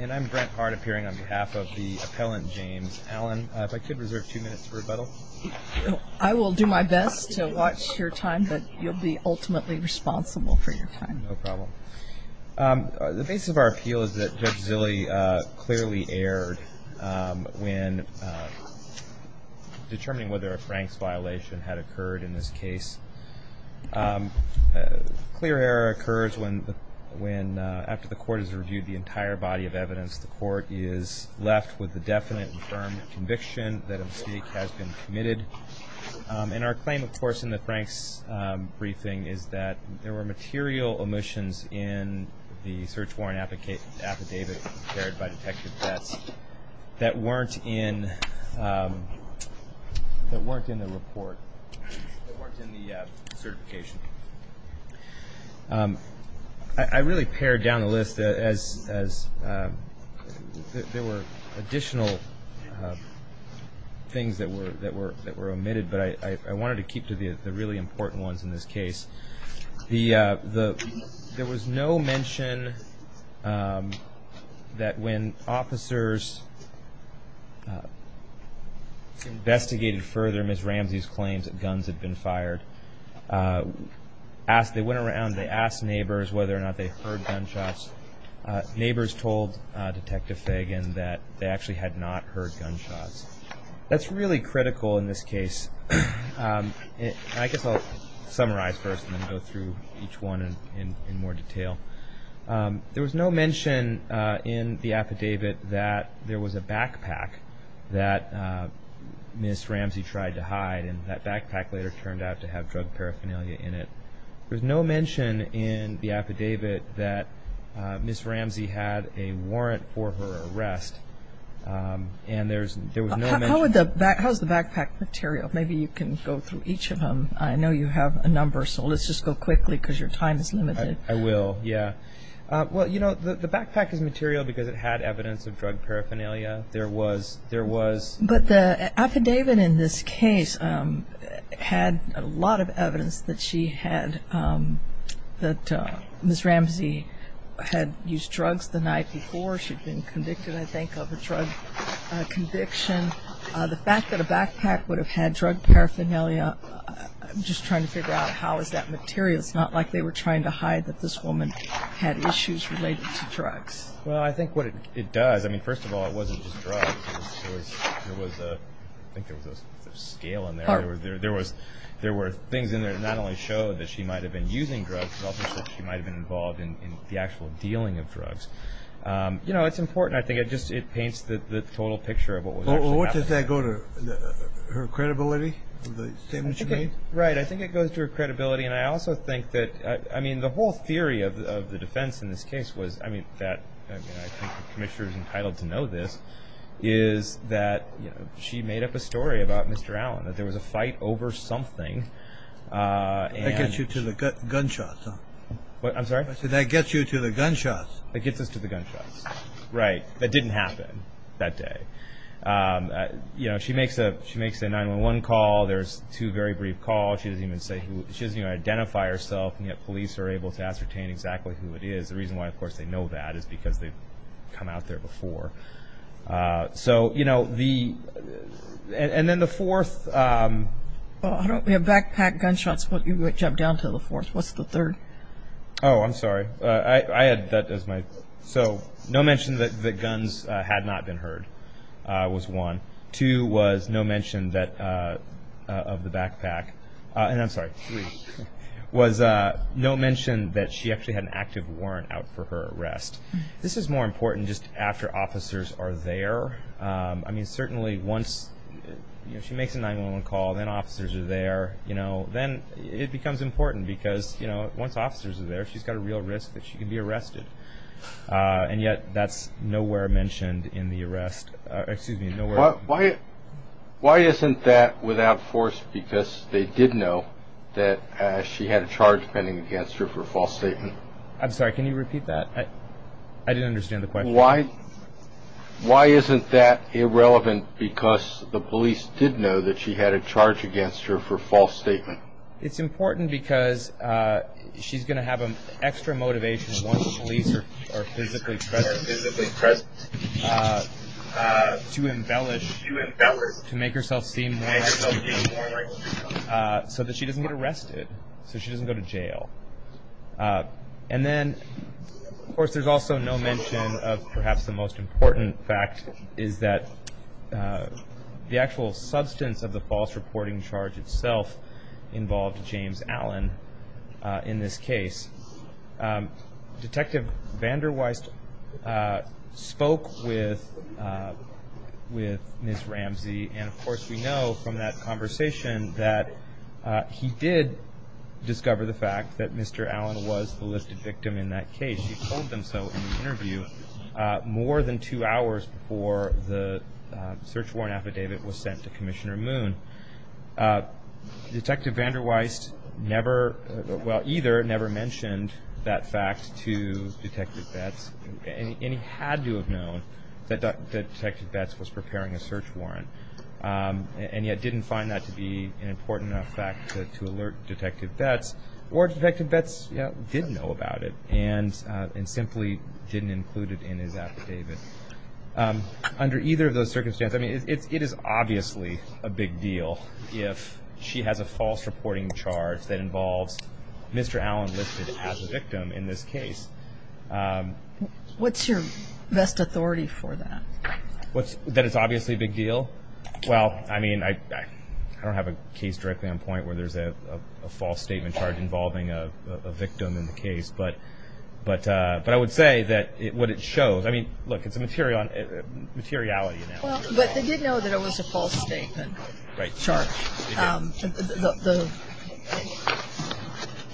I'm Brent Hart appearing on behalf of the appellant James Allen. If I could reserve two minutes for rebuttal. I will do my best to watch your time, but you'll be ultimately responsible for your time. No problem. The basis of our appeal is that Judge Zille clearly erred when determining whether a Franks violation had occurred in this case. A clear error occurs after the court has reviewed the entire body of evidence. The court is left with a definite and firm conviction that a mistake has been committed. And our claim, of course, in the Franks briefing is that there were material omissions in the search warrant affidavit prepared by Detective Betts that weren't in the report, that weren't in the certification. I really pared down the list as there were additional things that were omitted, but I wanted to keep to the really important ones in this case. There was no mention that when officers investigated further Ms. Ramsey's claims that guns had been fired, they went around, they asked neighbors whether or not they heard gunshots. Neighbors told Detective Fagan that they actually had not heard gunshots. That's really critical in this case. I guess I'll summarize first and then go through each one in more detail. There was no mention in the affidavit that there was a backpack that Ms. Ramsey tried to hide, and that backpack later turned out to have drug paraphernalia in it. There was no mention in the affidavit that Ms. Ramsey had a warrant for her arrest. How is the backpack material? Maybe you can go through each of them. I know you have a number, so let's just go quickly because your time is limited. I will. The backpack is material because it had evidence of drug paraphernalia. But the affidavit in this case had a lot of evidence that Ms. Ramsey had used drugs the night before. She'd been convicted, I think, of a drug conviction. The fact that a backpack would have had drug paraphernalia, I'm just trying to figure out how is that material. It's not like they were trying to hide that this woman had issues related to drugs. Well, I think what it does, I mean, first of all, it wasn't just drugs. There was a scale in there. There were things in there that not only showed that she might have been using drugs, but also that she might have been involved in the actual dealing of drugs. You know, it's important. I think it just paints the total picture of what was actually happening. What does that go to, her credibility, the statement she made? Right, I think it goes to her credibility. And I also think that, I mean, the whole theory of the defense in this case was, I mean, I think the Commissioner is entitled to know this, is that she made up a story about Mr. Allen, that there was a fight over something. That gets you to the gunshots, huh? What? I'm sorry? I said that gets you to the gunshots. That gets us to the gunshots. Right. That didn't happen that day. You know, she makes a 911 call. There's two very brief calls. She doesn't even say who, she doesn't even identify herself, and yet police are able to ascertain exactly who it is. The reason why, of course, they know that is because they've come out there before. So, you know, the, and then the fourth. We have backpack gunshots, but you jump down to the fourth. What's the third? Oh, I'm sorry. I had that as my, so no mention that the guns had not been heard was one. Two was no mention that, of the backpack, and I'm sorry, three, was no mention that she actually had an active warrant out for her arrest. This is more important just after officers are there. I mean, certainly once, you know, she makes a 911 call, then officers are there, you know, then it becomes important because, you know, once officers are there, she's got a real risk that she could be arrested, and yet that's nowhere mentioned in the arrest, excuse me, nowhere. Why isn't that without force because they did know that she had a charge pending against her for a false statement? I'm sorry, can you repeat that? I didn't understand the question. Why isn't that irrelevant because the police did know that she had a charge against her for a false statement? It's important because she's going to have an extra motivation once the police are physically present to embellish, to make herself seem right, so that she doesn't get arrested, so she doesn't go to jail. And then, of course, there's also no mention of perhaps the most important fact, is that the actual substance of the false reporting charge itself involved James Allen in this case. Detective Vander Weist spoke with Ms. Ramsey, and, of course, we know from that conversation that he did discover the fact that Mr. Allen was the listed victim in that case. He told them so in the interview more than two hours before the search warrant affidavit was sent to Commissioner Moon. Detective Vander Weist never, well, either never mentioned that fact to Detective Betts, and he had to have known that Detective Betts was preparing a search warrant, and yet didn't find that to be an important enough fact to alert Detective Betts, or Detective Betts did know about it and simply didn't include it in his affidavit. Under either of those circumstances, I mean, it is obviously a big deal if she has a false reporting charge that involves Mr. Allen listed as a victim in this case. What's your best authority for that? That it's obviously a big deal? Well, I mean, I don't have a case directly on point where there's a false statement charge involving a victim in the case, but I would say that what it shows, I mean, look, it's a materiality. Well, but they did know that it was a false statement charge,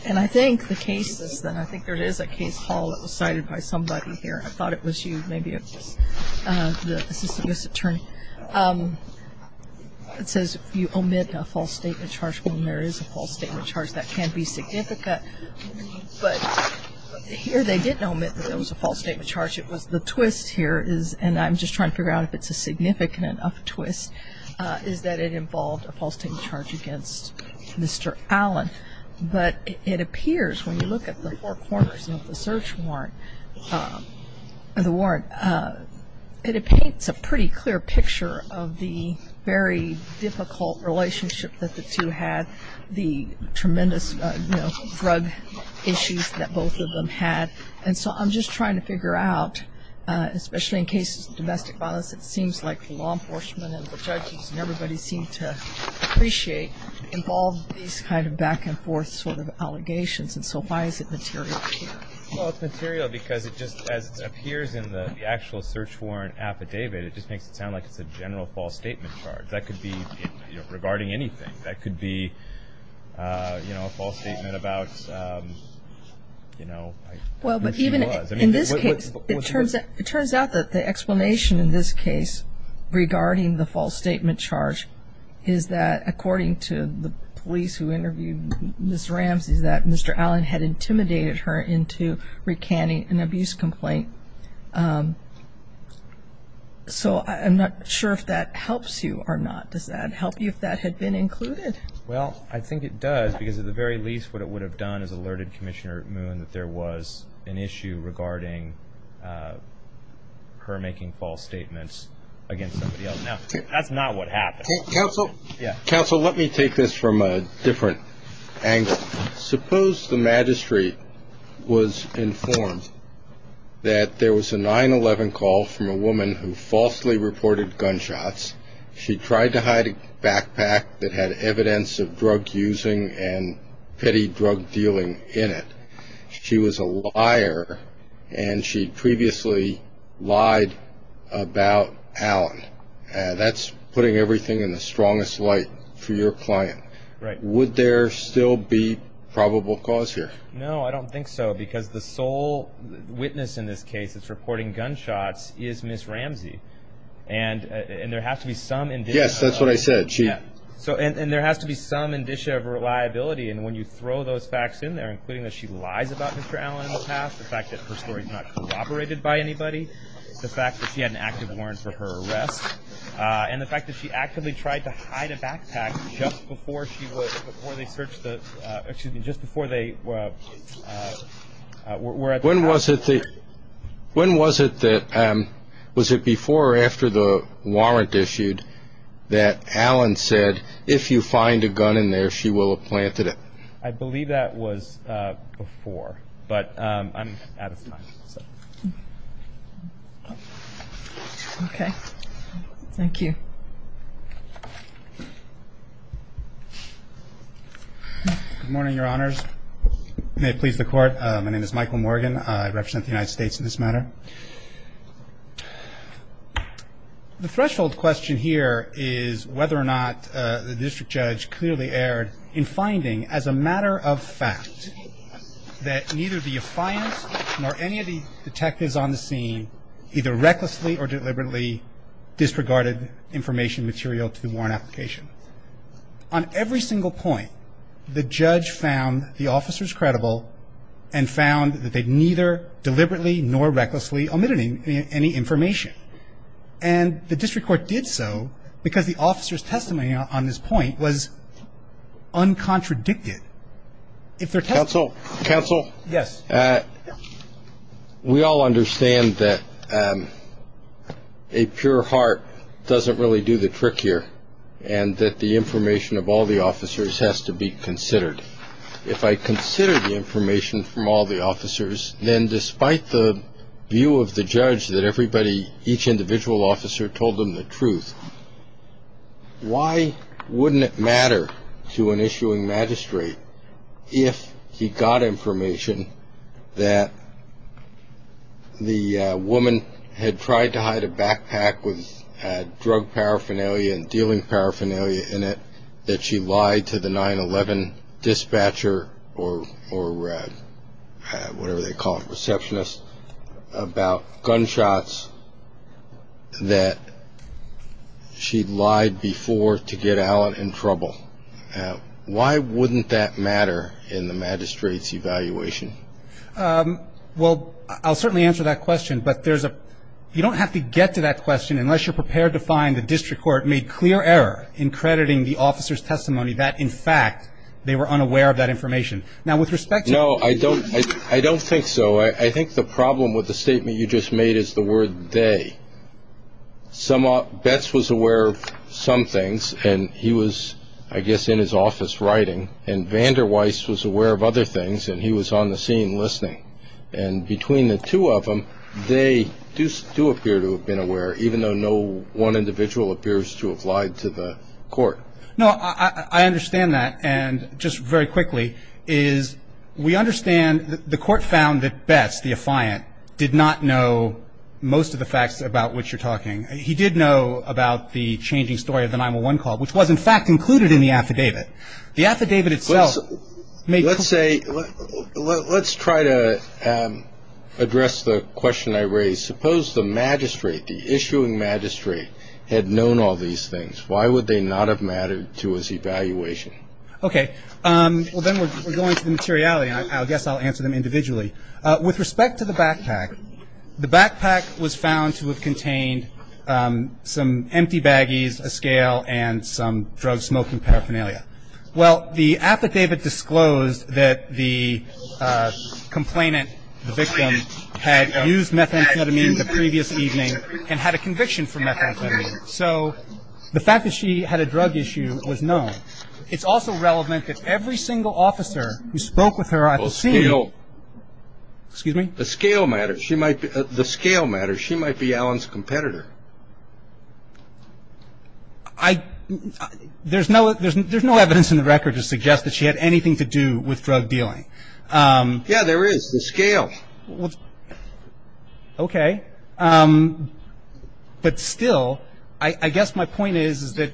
and I think the case is then, I think there is a case file that was cited by somebody here. I thought it was you, maybe it was the Assistant U.S. Attorney. It says you omit a false statement charge when there is a false statement charge. That can be significant, but here they didn't omit that there was a false statement charge. It was the twist here, and I'm just trying to figure out if it's a significant enough twist, is that it involved a false statement charge against Mr. Allen, but it appears when you look at the four corners of the search warrant, it paints a pretty clear picture of the very difficult relationship that the two had, the tremendous drug issues that both of them had. And so I'm just trying to figure out, especially in cases of domestic violence, it seems like law enforcement and the judges and everybody seemed to appreciate involved these kind of back and forth sort of allegations, and so why is it material here? Well, it's material because it just, as it appears in the actual search warrant affidavit, it just makes it sound like it's a general false statement charge. That could be regarding anything. That could be, you know, a false statement about, you know, who she was. In this case, it turns out that the explanation in this case regarding the false statement charge is that, according to the police who interviewed Ms. Ramsey, that Mr. Allen had intimidated her into recanting an abuse complaint. So I'm not sure if that helps you or not. Does that help you if that had been included? Well, I think it does, because at the very least what it would have done is alerted Commissioner Moon that there was an issue regarding her making false statements against somebody else. Now, that's not what happened. Counsel? Counsel, let me take this from a different angle. Suppose the magistrate was informed that there was a 9-11 call from a woman who falsely reported gunshots. She tried to hide a backpack that had evidence of drug using and petty drug dealing in it. She was a liar, and she previously lied about Allen. That's putting everything in the strongest light for your client. Would there still be probable cause here? No, I don't think so, because the sole witness in this case that's reporting gunshots is Ms. Ramsey, and there has to be some indicia of reliability. And when you throw those facts in there, including that she lies about Mr. Allen in the past, the fact that her story is not corroborated by anybody, the fact that she had an active warrant for her arrest, and the fact that she actively tried to hide a backpack just before they were at the house. When was it that, was it before or after the warrant issued that Allen said, if you find a gun in there, she will have planted it? I believe that was before, but I'm out of time. Okay. Thank you. May it please the Court. My name is Michael Morgan. I represent the United States in this matter. The threshold question here is whether or not the district judge clearly erred in finding, as a matter of fact, that neither the defiance nor any of the detectives on the scene either recklessly or deliberately disregarded information material to the warrant application. On every single point, the judge found the officers credible and found that they neither deliberately nor recklessly omitted any information. And the district court did so because the officers' testimony on this point was uncontradicted. Counsel? Counsel? Yes. We all understand that a pure heart doesn't really do the trick here and that the information of all the officers has to be considered. If I consider the information from all the officers, then despite the view of the judge that everybody, each individual officer, told them the truth, why wouldn't it matter to an issuing magistrate if he got information that the woman had tried to hide a backpack with drug paraphernalia and dealing paraphernalia in it that she lied to the 9-11 dispatcher or whatever they call it, receptionist, about gunshots that she'd lied before to get Alan in trouble? Why wouldn't that matter in the magistrate's evaluation? Well, I'll certainly answer that question, but there's a – you don't have to get to that question unless you're prepared to find the district court made clear error in crediting the officers' testimony that, in fact, they were unaware of that information. Now, with respect to – No, I don't think so. I think the problem with the statement you just made is the word they. Bets was aware of some things, and he was, I guess, in his office writing, and Vander Weiss was aware of other things, and he was on the scene listening. And between the two of them, they do appear to have been aware, even though no one individual appears to have lied to the court. No, I understand that. And just very quickly is we understand the court found that Bets, the affiant, did not know most of the facts about which you're talking. He did know about the changing story of the 9-11 call, which was, in fact, included in the affidavit. The affidavit itself made – Let's say – let's try to address the question I raised. Suppose the magistrate, the issuing magistrate, had known all these things. Why would they not have mattered to his evaluation? Okay. Well, then we're going to the materiality, and I guess I'll answer them individually. With respect to the backpack, the backpack was found to have contained some empty baggies, a scale, and some drug-smoking paraphernalia. Well, the affidavit disclosed that the complainant, the victim, had used methamphetamine the previous evening and had a conviction for methamphetamine. So the fact that she had a drug issue was known. It's also relevant that every single officer who spoke with her at the scene – Well, scale – Excuse me? The scale matters. She might – the scale matters. She might be Alan's competitor. I – there's no evidence in the record to suggest that she had anything to do with drug dealing. Yeah, there is. The scale. Okay. But still, I guess my point is that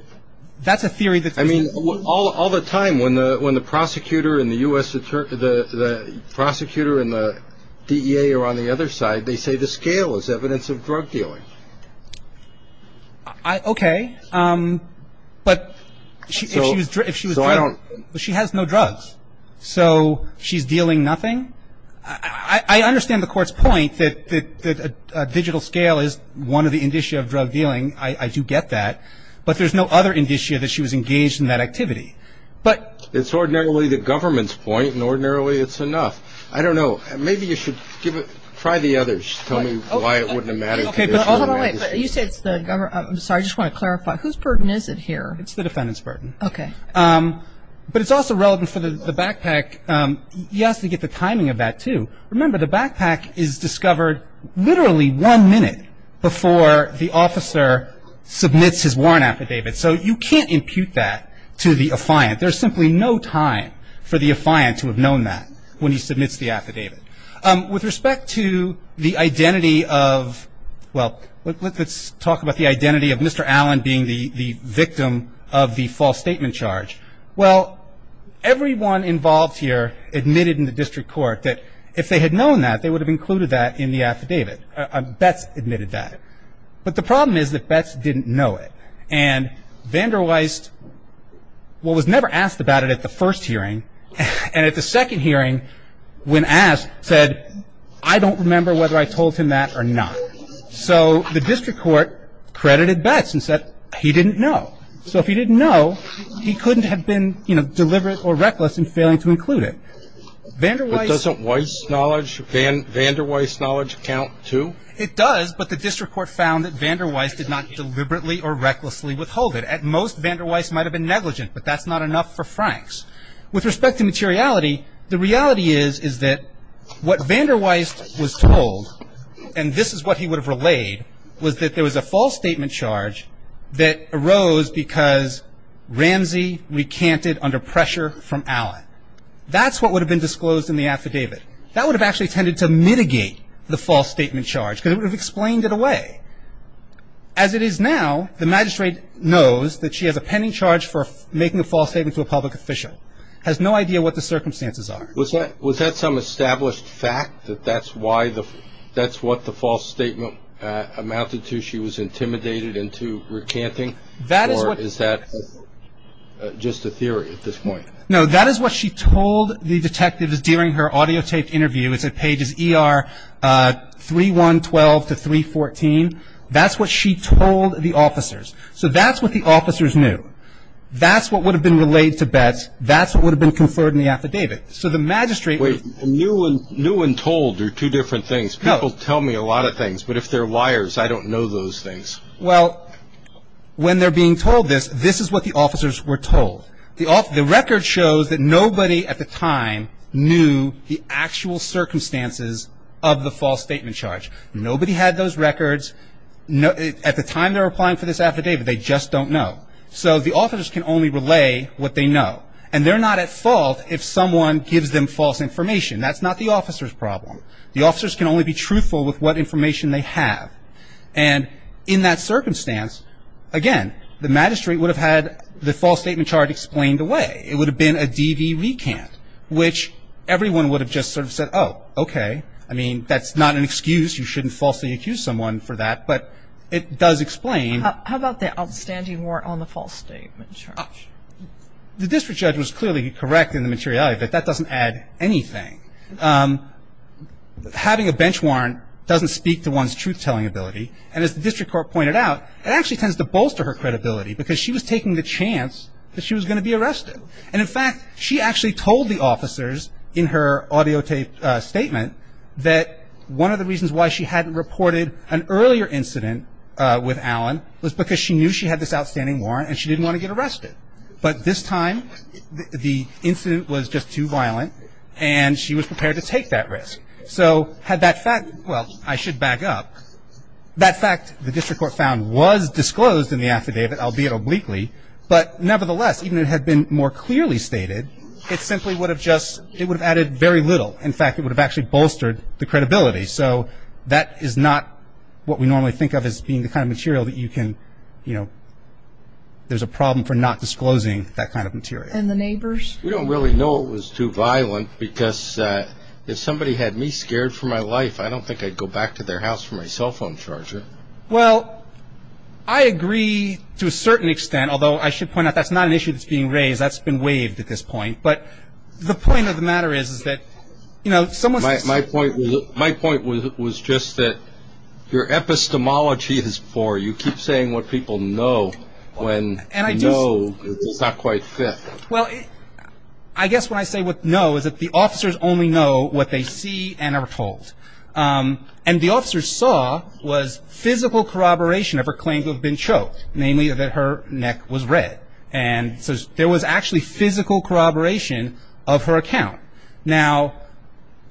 that's a theory that – I mean, all the time when the prosecutor and the U.S. – the prosecutor and the DEA are on the other side, they say the scale is evidence of drug dealing. Okay. But if she was drug – So I don't – But she has no drugs. So she's dealing nothing? I understand the Court's point that a digital scale is one of the indicia of drug dealing. I do get that. But there's no other indicia that she was engaged in that activity. But – It's ordinarily the government's point, and ordinarily it's enough. I don't know. Maybe you should give it – try the others. Tell me why it wouldn't have mattered. Okay, but – Hold on, wait. You say it's the government. I'm sorry. I just want to clarify. Whose burden is it here? It's the defendant's burden. Okay. But it's also relevant for the backpack. You have to get the timing of that, too. Remember, the backpack is discovered literally one minute before the officer submits his warrant affidavit. So you can't impute that to the affiant. There's simply no time for the affiant to have known that when he submits the affidavit. With respect to the identity of – well, let's talk about the identity of Mr. Allen being the victim of the false statement charge. Well, everyone involved here admitted in the district court that if they had known that, they would have included that in the affidavit. Betz admitted that. But the problem is that Betz didn't know it. And Vander Weist was never asked about it at the first hearing. And at the second hearing, when asked, said, I don't remember whether I told him that or not. So the district court credited Betz and said he didn't know. So if he didn't know, he couldn't have been, you know, deliberate or reckless in failing to include it. But doesn't Weist's knowledge – Vander Weist's knowledge count, too? It does, but the district court found that Vander Weist did not deliberately or recklessly withhold it. At most, Vander Weist might have been negligent, but that's not enough for Franks. With respect to materiality, the reality is, is that what Vander Weist was told, and this is what he would have relayed, was that there was a false statement charge that arose because Ramsey recanted under pressure from Allen. That's what would have been disclosed in the affidavit. That would have actually tended to mitigate the false statement charge because it would have explained it away. As it is now, the magistrate knows that she has a pending charge for making a false statement to a public official, has no idea what the circumstances are. Was that some established fact that that's why the – that's what the false statement amounted to? She was intimidated into recanting? That is what – Or is that just a theory at this point? No, that is what she told the detectives during her audiotaped interview. It's at pages ER 3-1-12 to 3-14. That's what she told the officers. So that's what the officers knew. That's what would have been relayed to Betz. That's what would have been conferred in the affidavit. So the magistrate – Wait, new and told are two different things. People tell me a lot of things, but if they're liars, I don't know those things. Well, when they're being told this, this is what the officers were told. The record shows that nobody at the time knew the actual circumstances of the false statement charge. Nobody had those records. At the time they were applying for this affidavit, they just don't know. So the officers can only relay what they know. And they're not at fault if someone gives them false information. That's not the officer's problem. The officers can only be truthful with what information they have. And in that circumstance, again, the magistrate would have had the false statement charge explained away. It would have been a DV recant, which everyone would have just sort of said, oh, okay. I mean, that's not an excuse. You shouldn't falsely accuse someone for that. But it does explain. How about the outstanding warrant on the false statement charge? The district judge was clearly correct in the materiality of it. That doesn't add anything. Having a bench warrant doesn't speak to one's truth-telling ability. And as the district court pointed out, it actually tends to bolster her credibility because she was taking the chance that she was going to be arrested. And, in fact, she actually told the officers in her audio tape statement that one of the reasons why she hadn't reported an earlier incident with Alan was because she knew she had this outstanding warrant and she didn't want to get arrested. But this time, the incident was just too violent and she was prepared to take that risk. So had that fact – well, I should back up. That fact, the district court found, was disclosed in the affidavit, albeit obliquely. But nevertheless, even if it had been more clearly stated, it simply would have just – it would have added very little. In fact, it would have actually bolstered the credibility. So that is not what we normally think of as being the kind of material that you can, you know – there's a problem for not disclosing that kind of material. And the neighbors? We don't really know it was too violent because if somebody had me scared for my life, I don't think I'd go back to their house for my cell phone charger. Well, I agree to a certain extent, although I should point out that's not an issue that's being raised. That's been waived at this point. But the point of the matter is that, you know, someone – My point was just that your epistemology is poor. You keep saying what people know when you know it's not quite fair. Well, I guess what I say with no is that the officers only know what they see and are told. And the officers saw was physical corroboration of her claim to have been choked, namely that her neck was red. And so there was actually physical corroboration of her account. Now,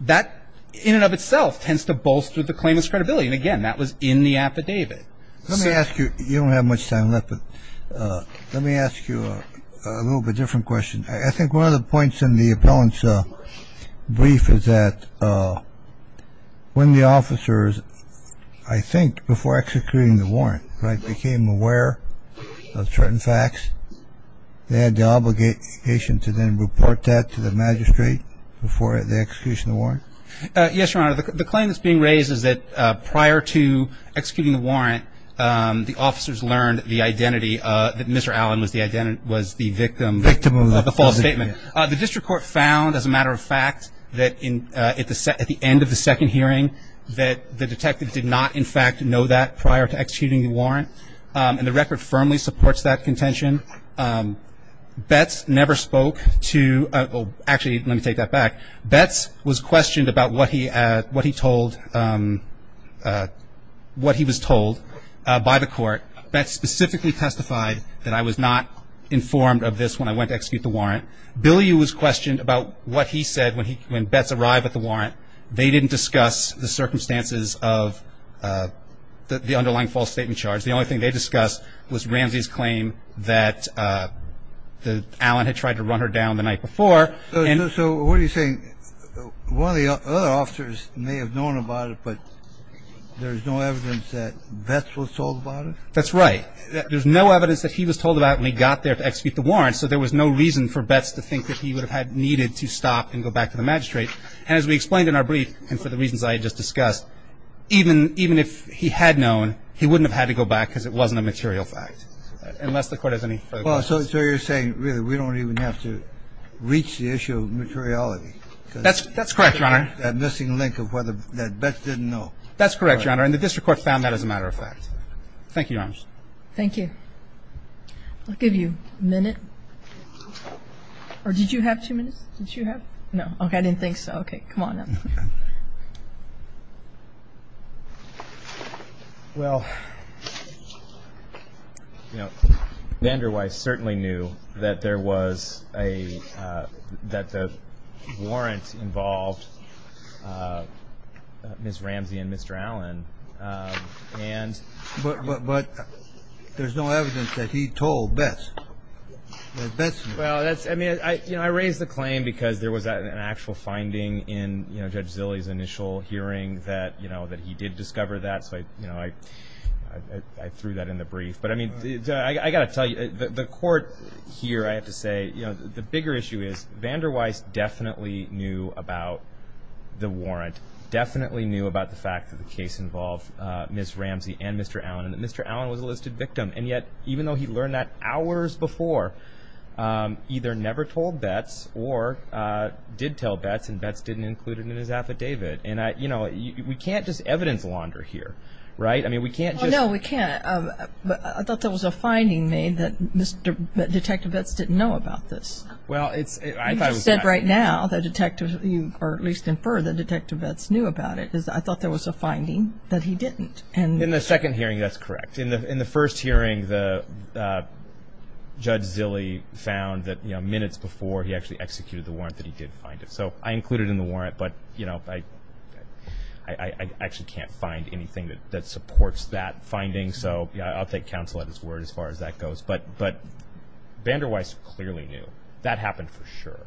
that in and of itself tends to bolster the claimant's credibility. And, again, that was in the affidavit. Let me ask you – you don't have much time left, but let me ask you a little bit different question. I think one of the points in the appellant's brief is that when the officers, I think before executing the warrant, became aware of certain facts, they had the obligation to then report that to the magistrate before the execution of the warrant? Yes, Your Honor. The claim that's being raised is that prior to executing the warrant, the officers learned the identity that Mr. Allen was the victim of the false statement. The district court found, as a matter of fact, that at the end of the second hearing, that the detective did not, in fact, know that prior to executing the warrant. And the record firmly supports that contention. Betz never spoke to – actually, let me take that back. Betz was questioned about what he told – what he was told by the court. Betz specifically testified that, I was not informed of this when I went to execute the warrant. Billy was questioned about what he said when Betz arrived at the warrant. They didn't discuss the circumstances of the underlying false statement charge. The only thing they discussed was Ramsey's claim that Allen had tried to run her down the night before. So what are you saying? One of the other officers may have known about it, but there's no evidence that Betz was told about it? That's right. There's no evidence that he was told about it when he got there to execute the warrant, so there was no reason for Betz to think that he would have needed to stop and go back to the magistrate. And as we explained in our brief, and for the reasons I had just discussed, even if he had known, he wouldn't have had to go back because it wasn't a material fact, unless the Court has any further questions. Well, so you're saying, really, we don't even have to reach the issue of materiality? That's correct, Your Honor. That missing link of whether Betz didn't know. That's correct, Your Honor. And the district court found that as a matter of fact. Thank you, Your Honor. Thank you. I'll give you a minute. Or did you have two minutes? Did you have? No. Okay. I didn't think so. Okay. Come on up. Well, you know, Vander Weiss certainly knew that there was a, that the warrant involved Ms. Ramsey and Mr. Allen. But there's no evidence that he told Betz that Betz knew. Well, that's, I mean, you know, I raised the claim because there was an actual finding in, you know, Judge Zilley's initial hearing that, you know, that he did discover that. So, you know, I threw that in the brief. But, I mean, I've got to tell you, the Court here, I have to say, you know, the bigger issue is Vander Weiss definitely knew about the warrant, definitely knew about the fact that the case involved Ms. Ramsey and Mr. Allen, and that Mr. Allen was a listed victim. And yet, even though he learned that hours before, either never told Betz or did tell Betz and Betz didn't include it in his affidavit. And, you know, we can't just evidence launder here. Right? I mean, we can't just. No, we can't. I thought there was a finding made that Detective Betz didn't know about this. Well, it's. You just said right now that Detective, or at least infer that Detective Betz knew about it. I thought there was a finding that he didn't. In the second hearing, that's correct. In the first hearing, Judge Zille found that, you know, minutes before he actually executed the warrant that he did find it. So I included it in the warrant, but, you know, I actually can't find anything that supports that finding. So I'll take counsel at his word as far as that goes. But Vander Weiss clearly knew. That happened for sure.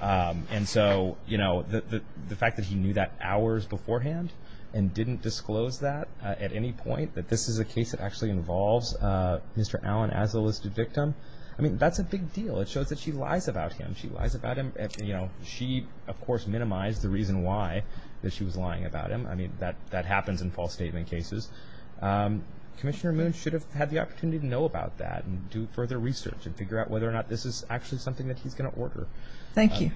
And so, you know, the fact that he knew that hours beforehand and didn't disclose that at any point, that this is a case that actually involves Mr. Allen as a listed victim, I mean, that's a big deal. It shows that she lies about him. She lies about him. You know, she, of course, minimized the reason why that she was lying about him. I mean, that happens in false statement cases. Commissioner Moon should have had the opportunity to know about that and do further research and figure out whether or not this is actually something that he's going to order. Thank you.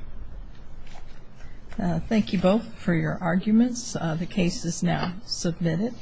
Thank you both for your arguments. The case is now submitted.